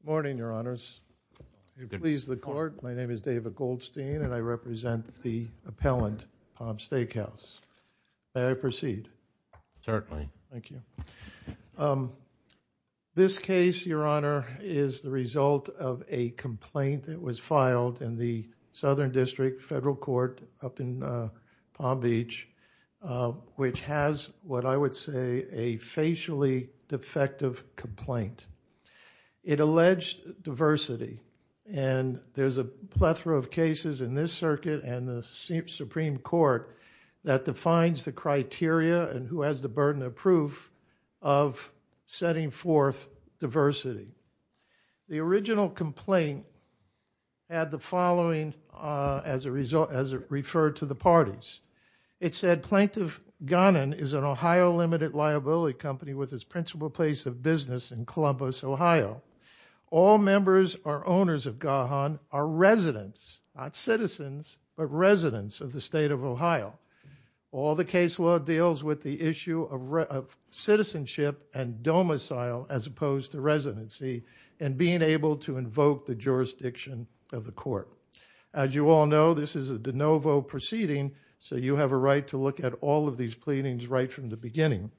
Good morning, Your Honors. If you'll please the court, my name is David Goldstein and I represent the appellant, Palm Steakhouse. May I proceed? Certainly. Thank you. This case, Your Honor, is the result of a complaint that was filed in the Southern District Federal Court up in Palm Beach, which has what I would say a facially defective complaint. It alleged diversity and there's a plethora of cases in this circuit and the Supreme Court that defines the criteria and who has the burden of proof of setting forth diversity. The original complaint had the following as it referred to the parties. It said Plaintiff Ghanan is an Ohio limited liability company with its principal place of business in Columbus, Ohio. All members or owners of Gahan are residents, not citizens, but residents of the state of Ohio. All the case law deals with the issue of citizenship and domicile as opposed to residency and being able to invoke the jurisdiction of the court. As you all know, this is a de novo proceeding, so you have a right to look at all of these pleadings right from the beginning.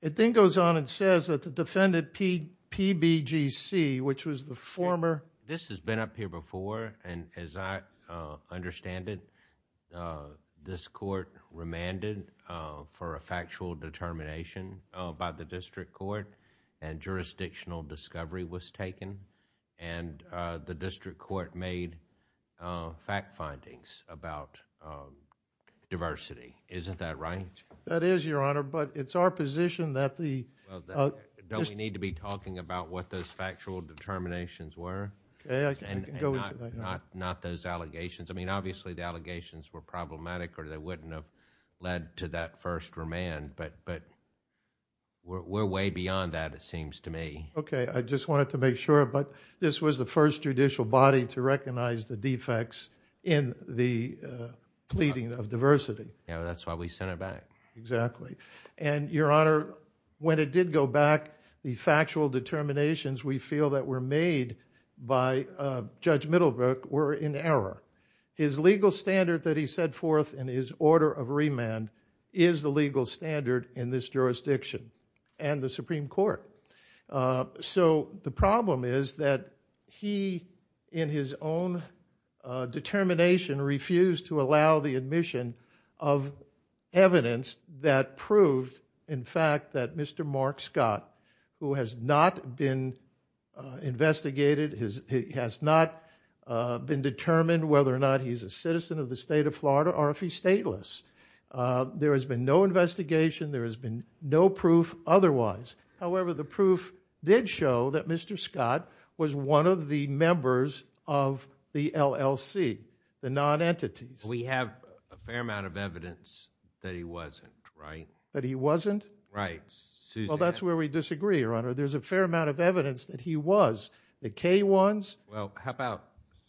It then goes on and says that the defendant, PBGC, which was the former This has been up here before and as I understand it, this court remanded for a factual determination by the district court, and jurisdictional discovery was taken and the district court made fact findings about diversity. Isn't that right? That is, Your Honor, but it's our position that the... Okay, I can go into that. Not those allegations. I mean, obviously the allegations were problematic or they wouldn't have led to that first remand, but we're way beyond that, it seems to me. Okay, I just wanted to make sure, but this was the first judicial body to recognize the defects in the pleading of diversity. Yeah, that's why we sent it back. Exactly. And Your Honor, when it did go back, the factual determinations we feel that were made by Judge Middlebrook were in error. His legal standard that he set forth in his order of remand is the legal standard in this jurisdiction and the Supreme Court. So the problem is that he, in his own determination, refused to allow the admission of evidence that proved, in fact, that Mr. Mark Scott, who has not been investigated, has not been determined whether or not he's a citizen of the state of Florida or if he's stateless. There has been no investigation. There has been no proof otherwise. However, the proof did show that Mr. Scott was one of the members of the LLC, the non-entities. We have a fair amount of evidence that he wasn't, right? That he wasn't? Right. Well, that's where we disagree, Your Honor. There's a fair amount of evidence that he was. The K-1s? Well, how about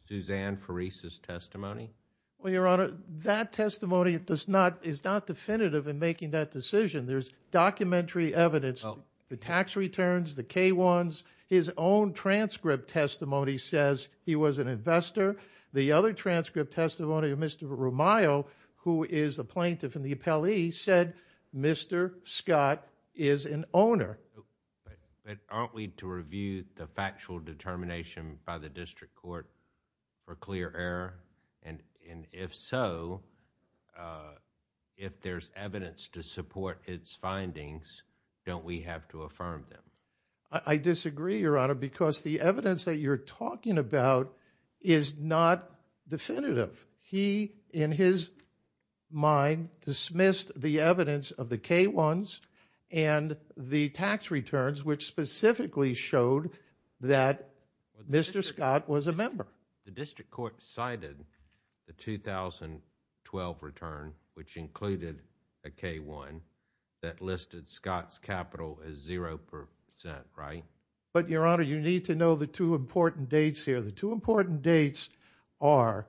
Suzanne Parise's testimony? Well, Your Honor, that testimony is not definitive in making that decision. There's documentary evidence, the tax returns, the K-1s. His own transcript testimony says he was an investor. The other transcript testimony of Mr. Romayo, who is a plaintiff in the appellee, said Mr. Scott is an owner. But aren't we to review the factual determination by the district court for clear error? And if so, if there's evidence to support its findings, don't we have to affirm them? I disagree, Your Honor, because the evidence that you're talking about is not definitive. He, in his mind, dismissed the evidence of the K-1s and the tax returns, which specifically showed that Mr. Scott was a member. The district court cited the 2012 return, which included a K-1, that listed Scott's capital as 0%, right? But Your Honor, you need to know the two important dates here. The two important dates are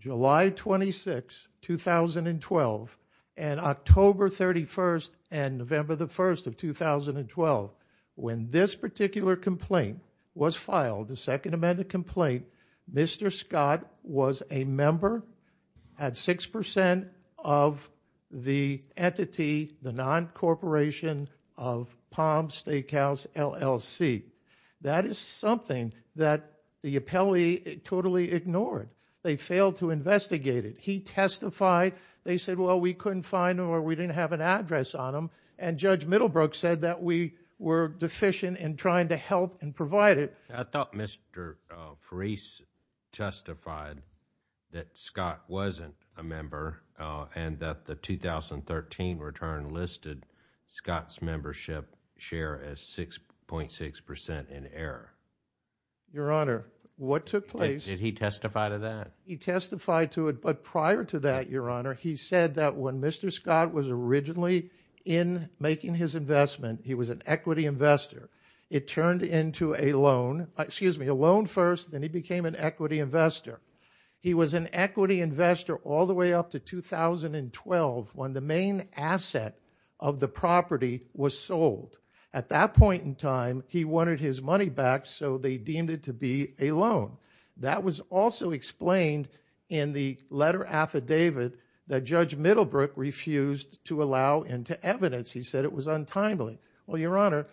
July 26, 2012 and October 31st and November 1st of 2012. When this particular complaint was filed, the Second Amendment complaint, Mr. Scott was a member at 6% of the entity, the non-corporation of Palm Steakhouse, LLC. That is something that the appellee totally ignored. They failed to investigate it. He testified. They said, well, we couldn't find him or we didn't have an address on him. And Judge Middlebrook said that we were deficient in trying to help and provide it. I thought Mr. Parise testified that Scott wasn't a member and that the 2013 return listed Scott's membership share as 6.6% in error. Your Honor, what took place... Did he testify to that? He testified to it, but prior to that, Your Honor, he said that when Mr. Scott was originally in making his investment, he was an equity investor. It turned into a loan, excuse me, a loan first, then he became an equity investor. He was an equity investor all the way up to 2012 when the main asset of the property was sold. At that point in time, he wanted his money back, so they deemed it to be a loan. That was also explained in the letter affidavit that Judge Middlebrook refused to allow into evidence. He said it was untimely. Well, Your Honor,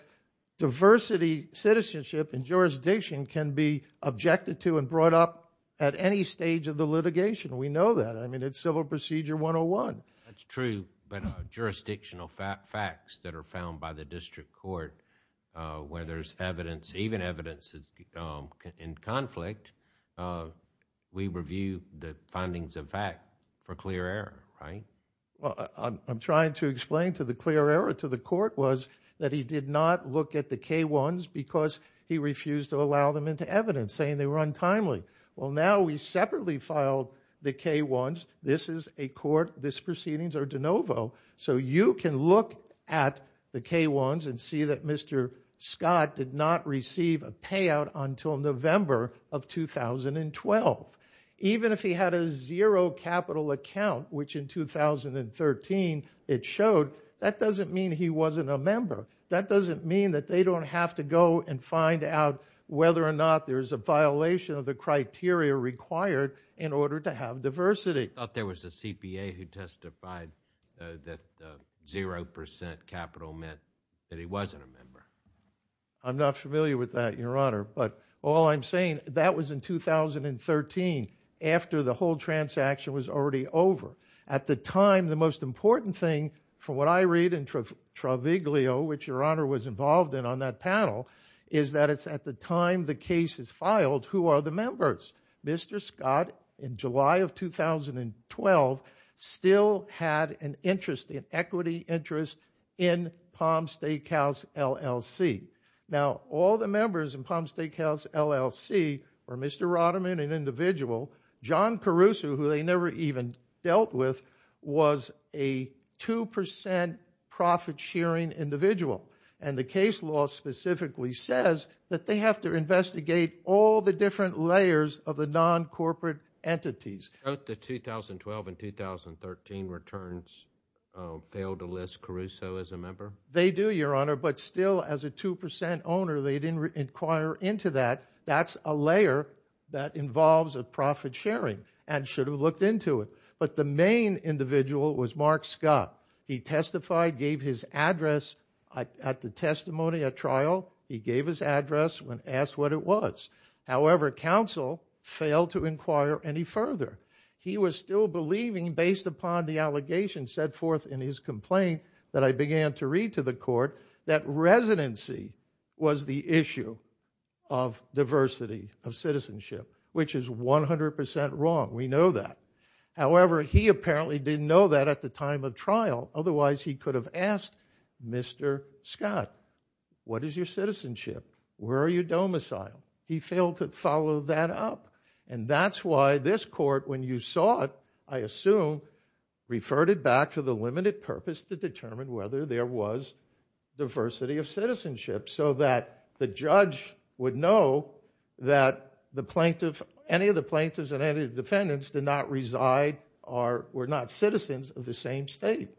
diversity, citizenship, and jurisdiction can be objected to and brought up at any stage of the litigation. We know that. I mean, it's Civil Procedure 101. That's true, but jurisdictional facts that are found by the district court where there's even evidence in conflict, we review the findings of fact for clear error, right? I'm trying to explain to the clear error to the court was that he did not look at the K-1s because he refused to allow them into evidence, saying they were untimely. Well, now we separately filed the K-1s. This is a court, this proceedings are de novo, so you can look at the K-1s and see that Mr. Scott did not receive a payout until November of 2012. Even if he had a zero capital account, which in 2013 it showed, that doesn't mean he wasn't a member. That doesn't mean that they don't have to go and find out whether or not there's a violation of the criteria required in order to have diversity. I thought there was a CPA who testified that zero percent capital meant that he wasn't a member. I'm not familiar with that, Your Honor, but all I'm saying, that was in 2013, after the whole transaction was already over. At the time, the most important thing, from what I read in Traviglio, which Your Honor was involved in on that panel, is that it's at the time the case is filed, who are the members? Mr. Scott, in July of 2012, still had an interest, an equity interest, in Palm Steakhouse, LLC. Now, all the members in Palm Steakhouse, LLC, were Mr. Roderman and individual. John Caruso, who they never even dealt with, was a two percent profit sharing individual. And the case law specifically says that they have to investigate all the different layers of the non-corporate entities. Both the 2012 and 2013 returns failed to list Caruso as a member? They do, Your Honor, but still, as a two percent owner, they didn't inquire into that. That's a layer that involves a profit sharing, and should have looked into it. But the main individual was Mark Scott. He testified, gave his address at the testimony, at trial, he gave his address and asked what it was. However, counsel failed to inquire any further. He was still believing, based upon the allegations set forth in his complaint that I began to read to the court, that residency was the issue of diversity, of citizenship, which is 100 percent wrong. We know that. However, he apparently didn't know that at the time of trial, otherwise he could have asked Mr. Scott, what is your citizenship? Where are you domiciled? He failed to follow that up. And that's why this court, when you saw it, I assume, referred it back to the limited purpose to determine whether there was diversity of citizenship, so that the judge would know that any of the plaintiffs and any of the defendants did not reside, or were not citizens of the same state.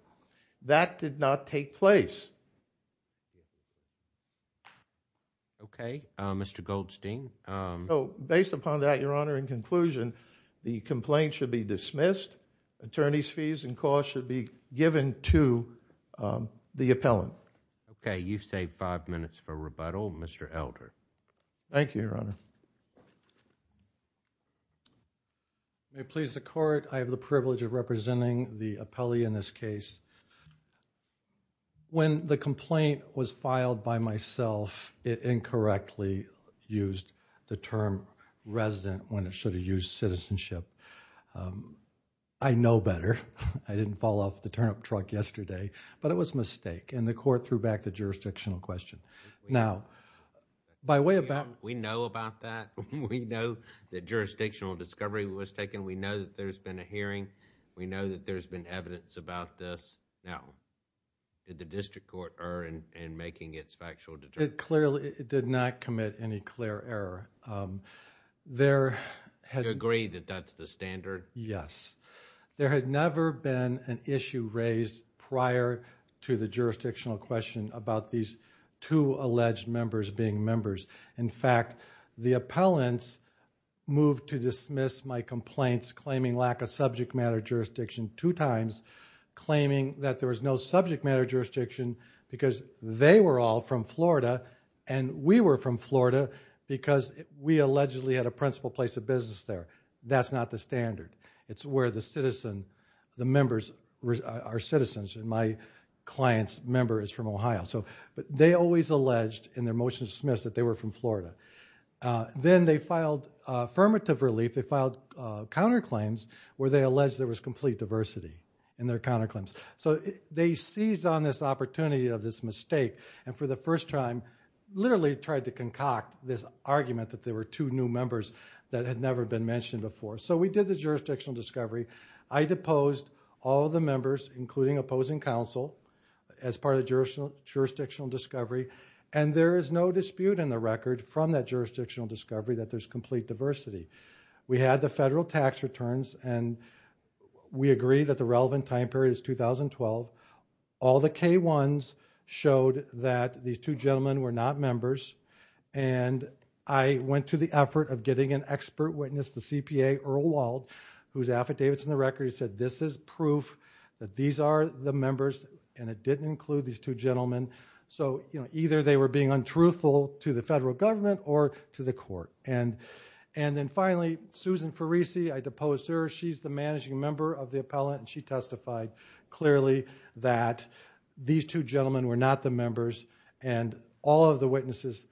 That did not take place. Okay, Mr. Goldstein. Based upon that, Your Honor, in conclusion, the complaint should be dismissed, attorney's fees and costs should be given to the appellant. Okay, you've saved five minutes for rebuttal. Mr. Elder. Thank you, Your Honor. May it please the court, I have the privilege of representing the appellee in this case. When the complaint was filed by myself, it incorrectly used the term resident when it should have used citizenship. I know better. I didn't fall off the turnip truck yesterday, but it was a mistake, and the court threw back the jurisdictional question. Now, by way of... We know about that. We know that jurisdictional discovery was taken. We know that there's been a hearing. We know that there's been evidence about this. Now, did the district court err in making its factual determination? It clearly did not commit any clear error. There had... You agree that that's the standard? Yes. There had never been an issue raised prior to the jurisdictional question about these two alleged members being members. In fact, the appellants moved to dismiss my complaints claiming lack of subject matter jurisdiction two times, claiming that there was no subject matter jurisdiction because they were all from Florida and we were from Florida because we allegedly had a principal place of business there. That's not the standard. It's where the members are citizens, and my client's member is from Ohio. They always alleged in their motion to dismiss that they were from Florida. Then they filed affirmative relief. They filed counterclaims where they alleged there was complete diversity in their counterclaims. They seized on this opportunity of this mistake and for the first time literally tried to concoct this argument that there were two new members that had never been mentioned before. We did the jurisdictional discovery. I deposed all of the members, including opposing counsel, as part of the jurisdictional discovery. There is no dispute in the record from that jurisdictional discovery that there's complete diversity. We had the federal tax returns, and we agree that the relevant time period is 2012. All the K-1s showed that these two gentlemen were not members. I went to the effort of getting an expert witness, the CPA, Earl Wald, whose affidavit is in the record. He said, this is proof that these are the members, and it didn't include these two gentlemen. Either they were being untruthful to the federal government or to the court. Then finally, Susan Farisi, I deposed her. She's the managing member of the appellate, and she testified clearly that these two gentlemen were not the members, and all of the witnesses,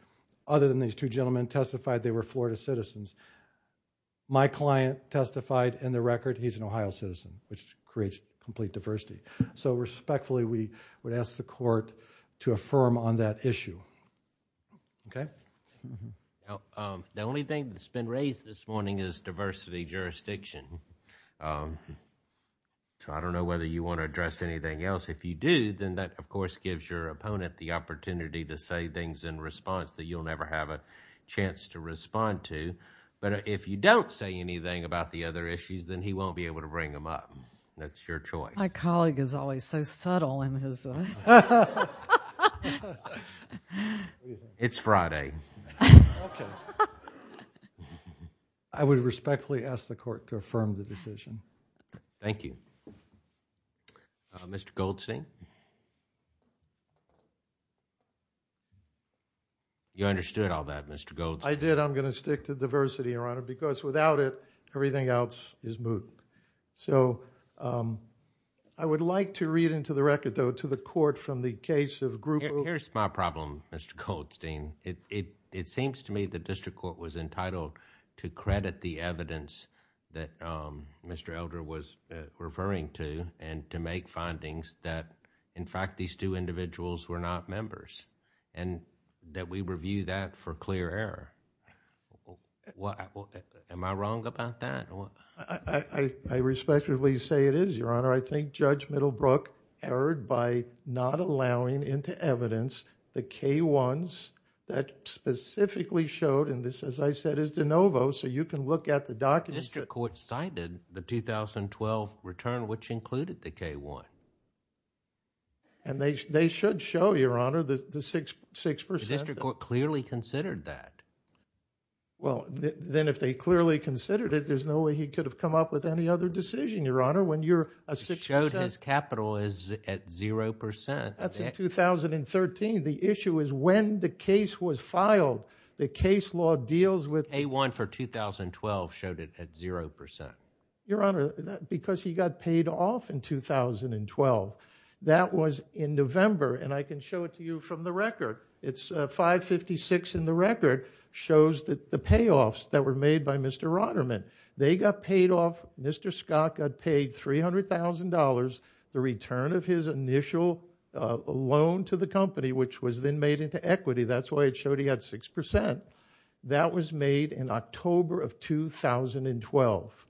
other than these two gentlemen, testified they were Florida citizens. My client testified in the record he's an Ohio citizen, which creates complete diversity. Respectfully, we would ask the court to affirm on that issue. Okay? The only thing that's been raised this morning is diversity jurisdiction. I don't know whether you want to address anything else. If you do, then that, of course, gives your opponent the opportunity to say things in response that you'll never have a chance to respond to. If you don't say anything about the other issues, then he won't be able to bring them up. That's your choice. My colleague is always so subtle in his... It's Friday. I would respectfully ask the court to affirm the decision. Thank you. Mr. Goldstein? You understood all that, Mr. Goldstein? I did. I'm going to stick to diversity, Your Honor, because without it, everything else is moot. I would like to read into the record, though, to the court from the case of group... Here's my problem, Mr. Goldstein. It seems to me the district court was entitled to credit the evidence that Mr. Elder was referring to and to make findings that, in fact, these two individuals were not members and that we review that for clear error. Am I wrong about that? I respectfully say it is, Your Honor. I think Judge Middlebrook erred by not allowing into evidence the K-1s that specifically showed, and this, as I said, is de novo, so you can look at the documents... And they should show, Your Honor, the 6%... The district court clearly considered that. Well, then if they clearly considered it, there's no way he could have come up with any other decision, Your Honor, when you're a 6%... He showed his capital at 0%. That's in 2013. The issue is when the case was filed, the case law deals with... A-1 for 2012 showed it at 0%. Your Honor, because he got paid off in 2012. That was in November, and I can show it to you from the record. It's... 556 in the record shows the payoffs that were made by Mr. Rotterman. They got paid off... Mr. Scott got paid $300,000, the return of his initial loan to the company, which was then made into equity. That's why it showed he had 6%. That was made in October of 2012.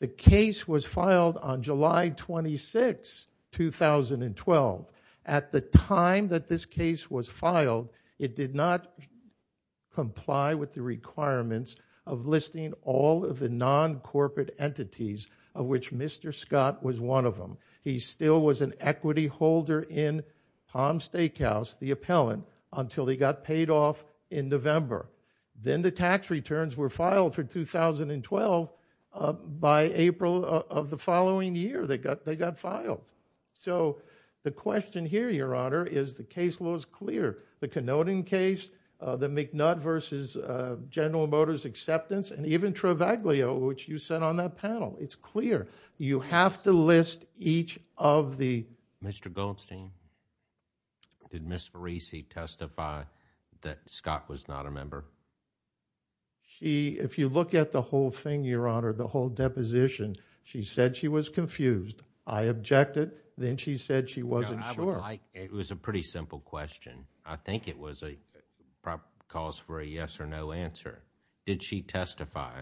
The case was filed on July 26, 2012. At the time that this case was filed, it did not comply with the requirements of listing all of the non-corporate entities of which Mr. Scott was one of them. He still was an equity holder in Palm Steakhouse, the appellant, until he got paid off in November. Then the tax returns were filed for 2012 by April of the following year, they got filed. The question here, Your Honor, is the case law is clear. The Canoding case, the McNutt v. General Motors acceptance, and even Trivaglio, which you said on that panel, it's clear. You have to list each of the... If you look at the whole thing, Your Honor, the whole deposition, she said she was confused. I objected. Then she said she wasn't sure. It was a pretty simple question. I think it calls for a yes or no answer. Did she testify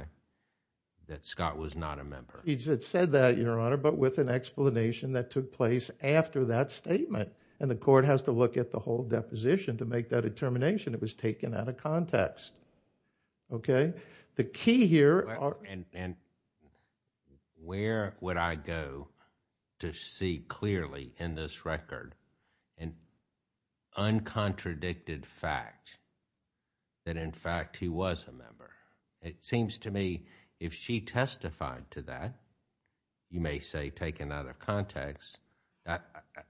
that Scott was not a member? She said that, Your Honor, but with an explanation that took place after that statement. The court has to look at the whole deposition to make that determination. It was taken out of context. The key here... Where would I go to see clearly in this record an uncontradicted fact that, in fact, he was a member? It seems to me if she testified to that, you may say taken out of context,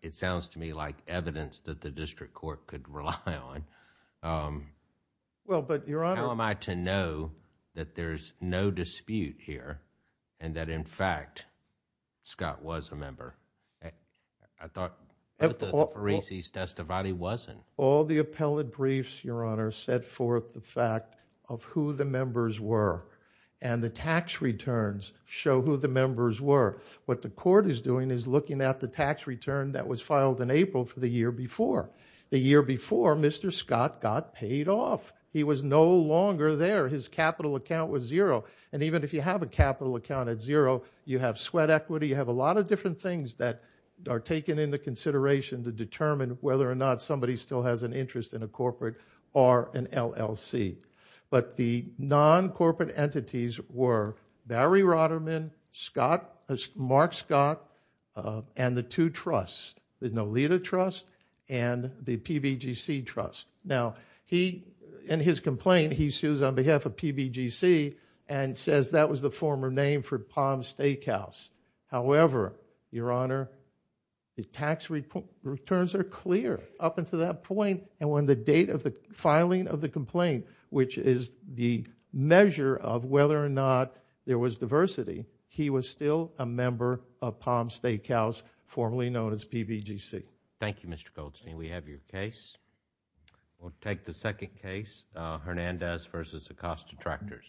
it sounds to me like evidence that the district court could rely on. How am I to know that there's no dispute here and that, in fact, Scott was a member? I thought that Parisi's testimony wasn't. All the appellate briefs, Your Honor, set forth the fact of who the members were. The tax returns show who the members were. What the court is doing is looking at the tax return that was filed in April for the year before. The year before, Mr. Scott got paid off. He was no longer there. His capital account was zero. Even if you have a capital account at zero, you have sweat equity, you have a lot of different things that are taken into consideration to determine whether or not somebody still has an interest in a corporate or an LLC. The non-corporate entities were Barry Rotterman, Mark Scott, and the two trusts, the Nolita Trust and the PBGC Trust. In his complaint, he sues on behalf of PBGC and says that was the former name for Palm Steakhouse. However, Your Honor, the tax returns are clear up until that point. On the date of the filing of the complaint, which is the measure of whether or not there was diversity, he was still a member of Palm Steakhouse, formerly known as PBGC. Thank you, Mr. Goldstein. We have your case. We'll take the second case, Hernandez v. Acosta Tractors.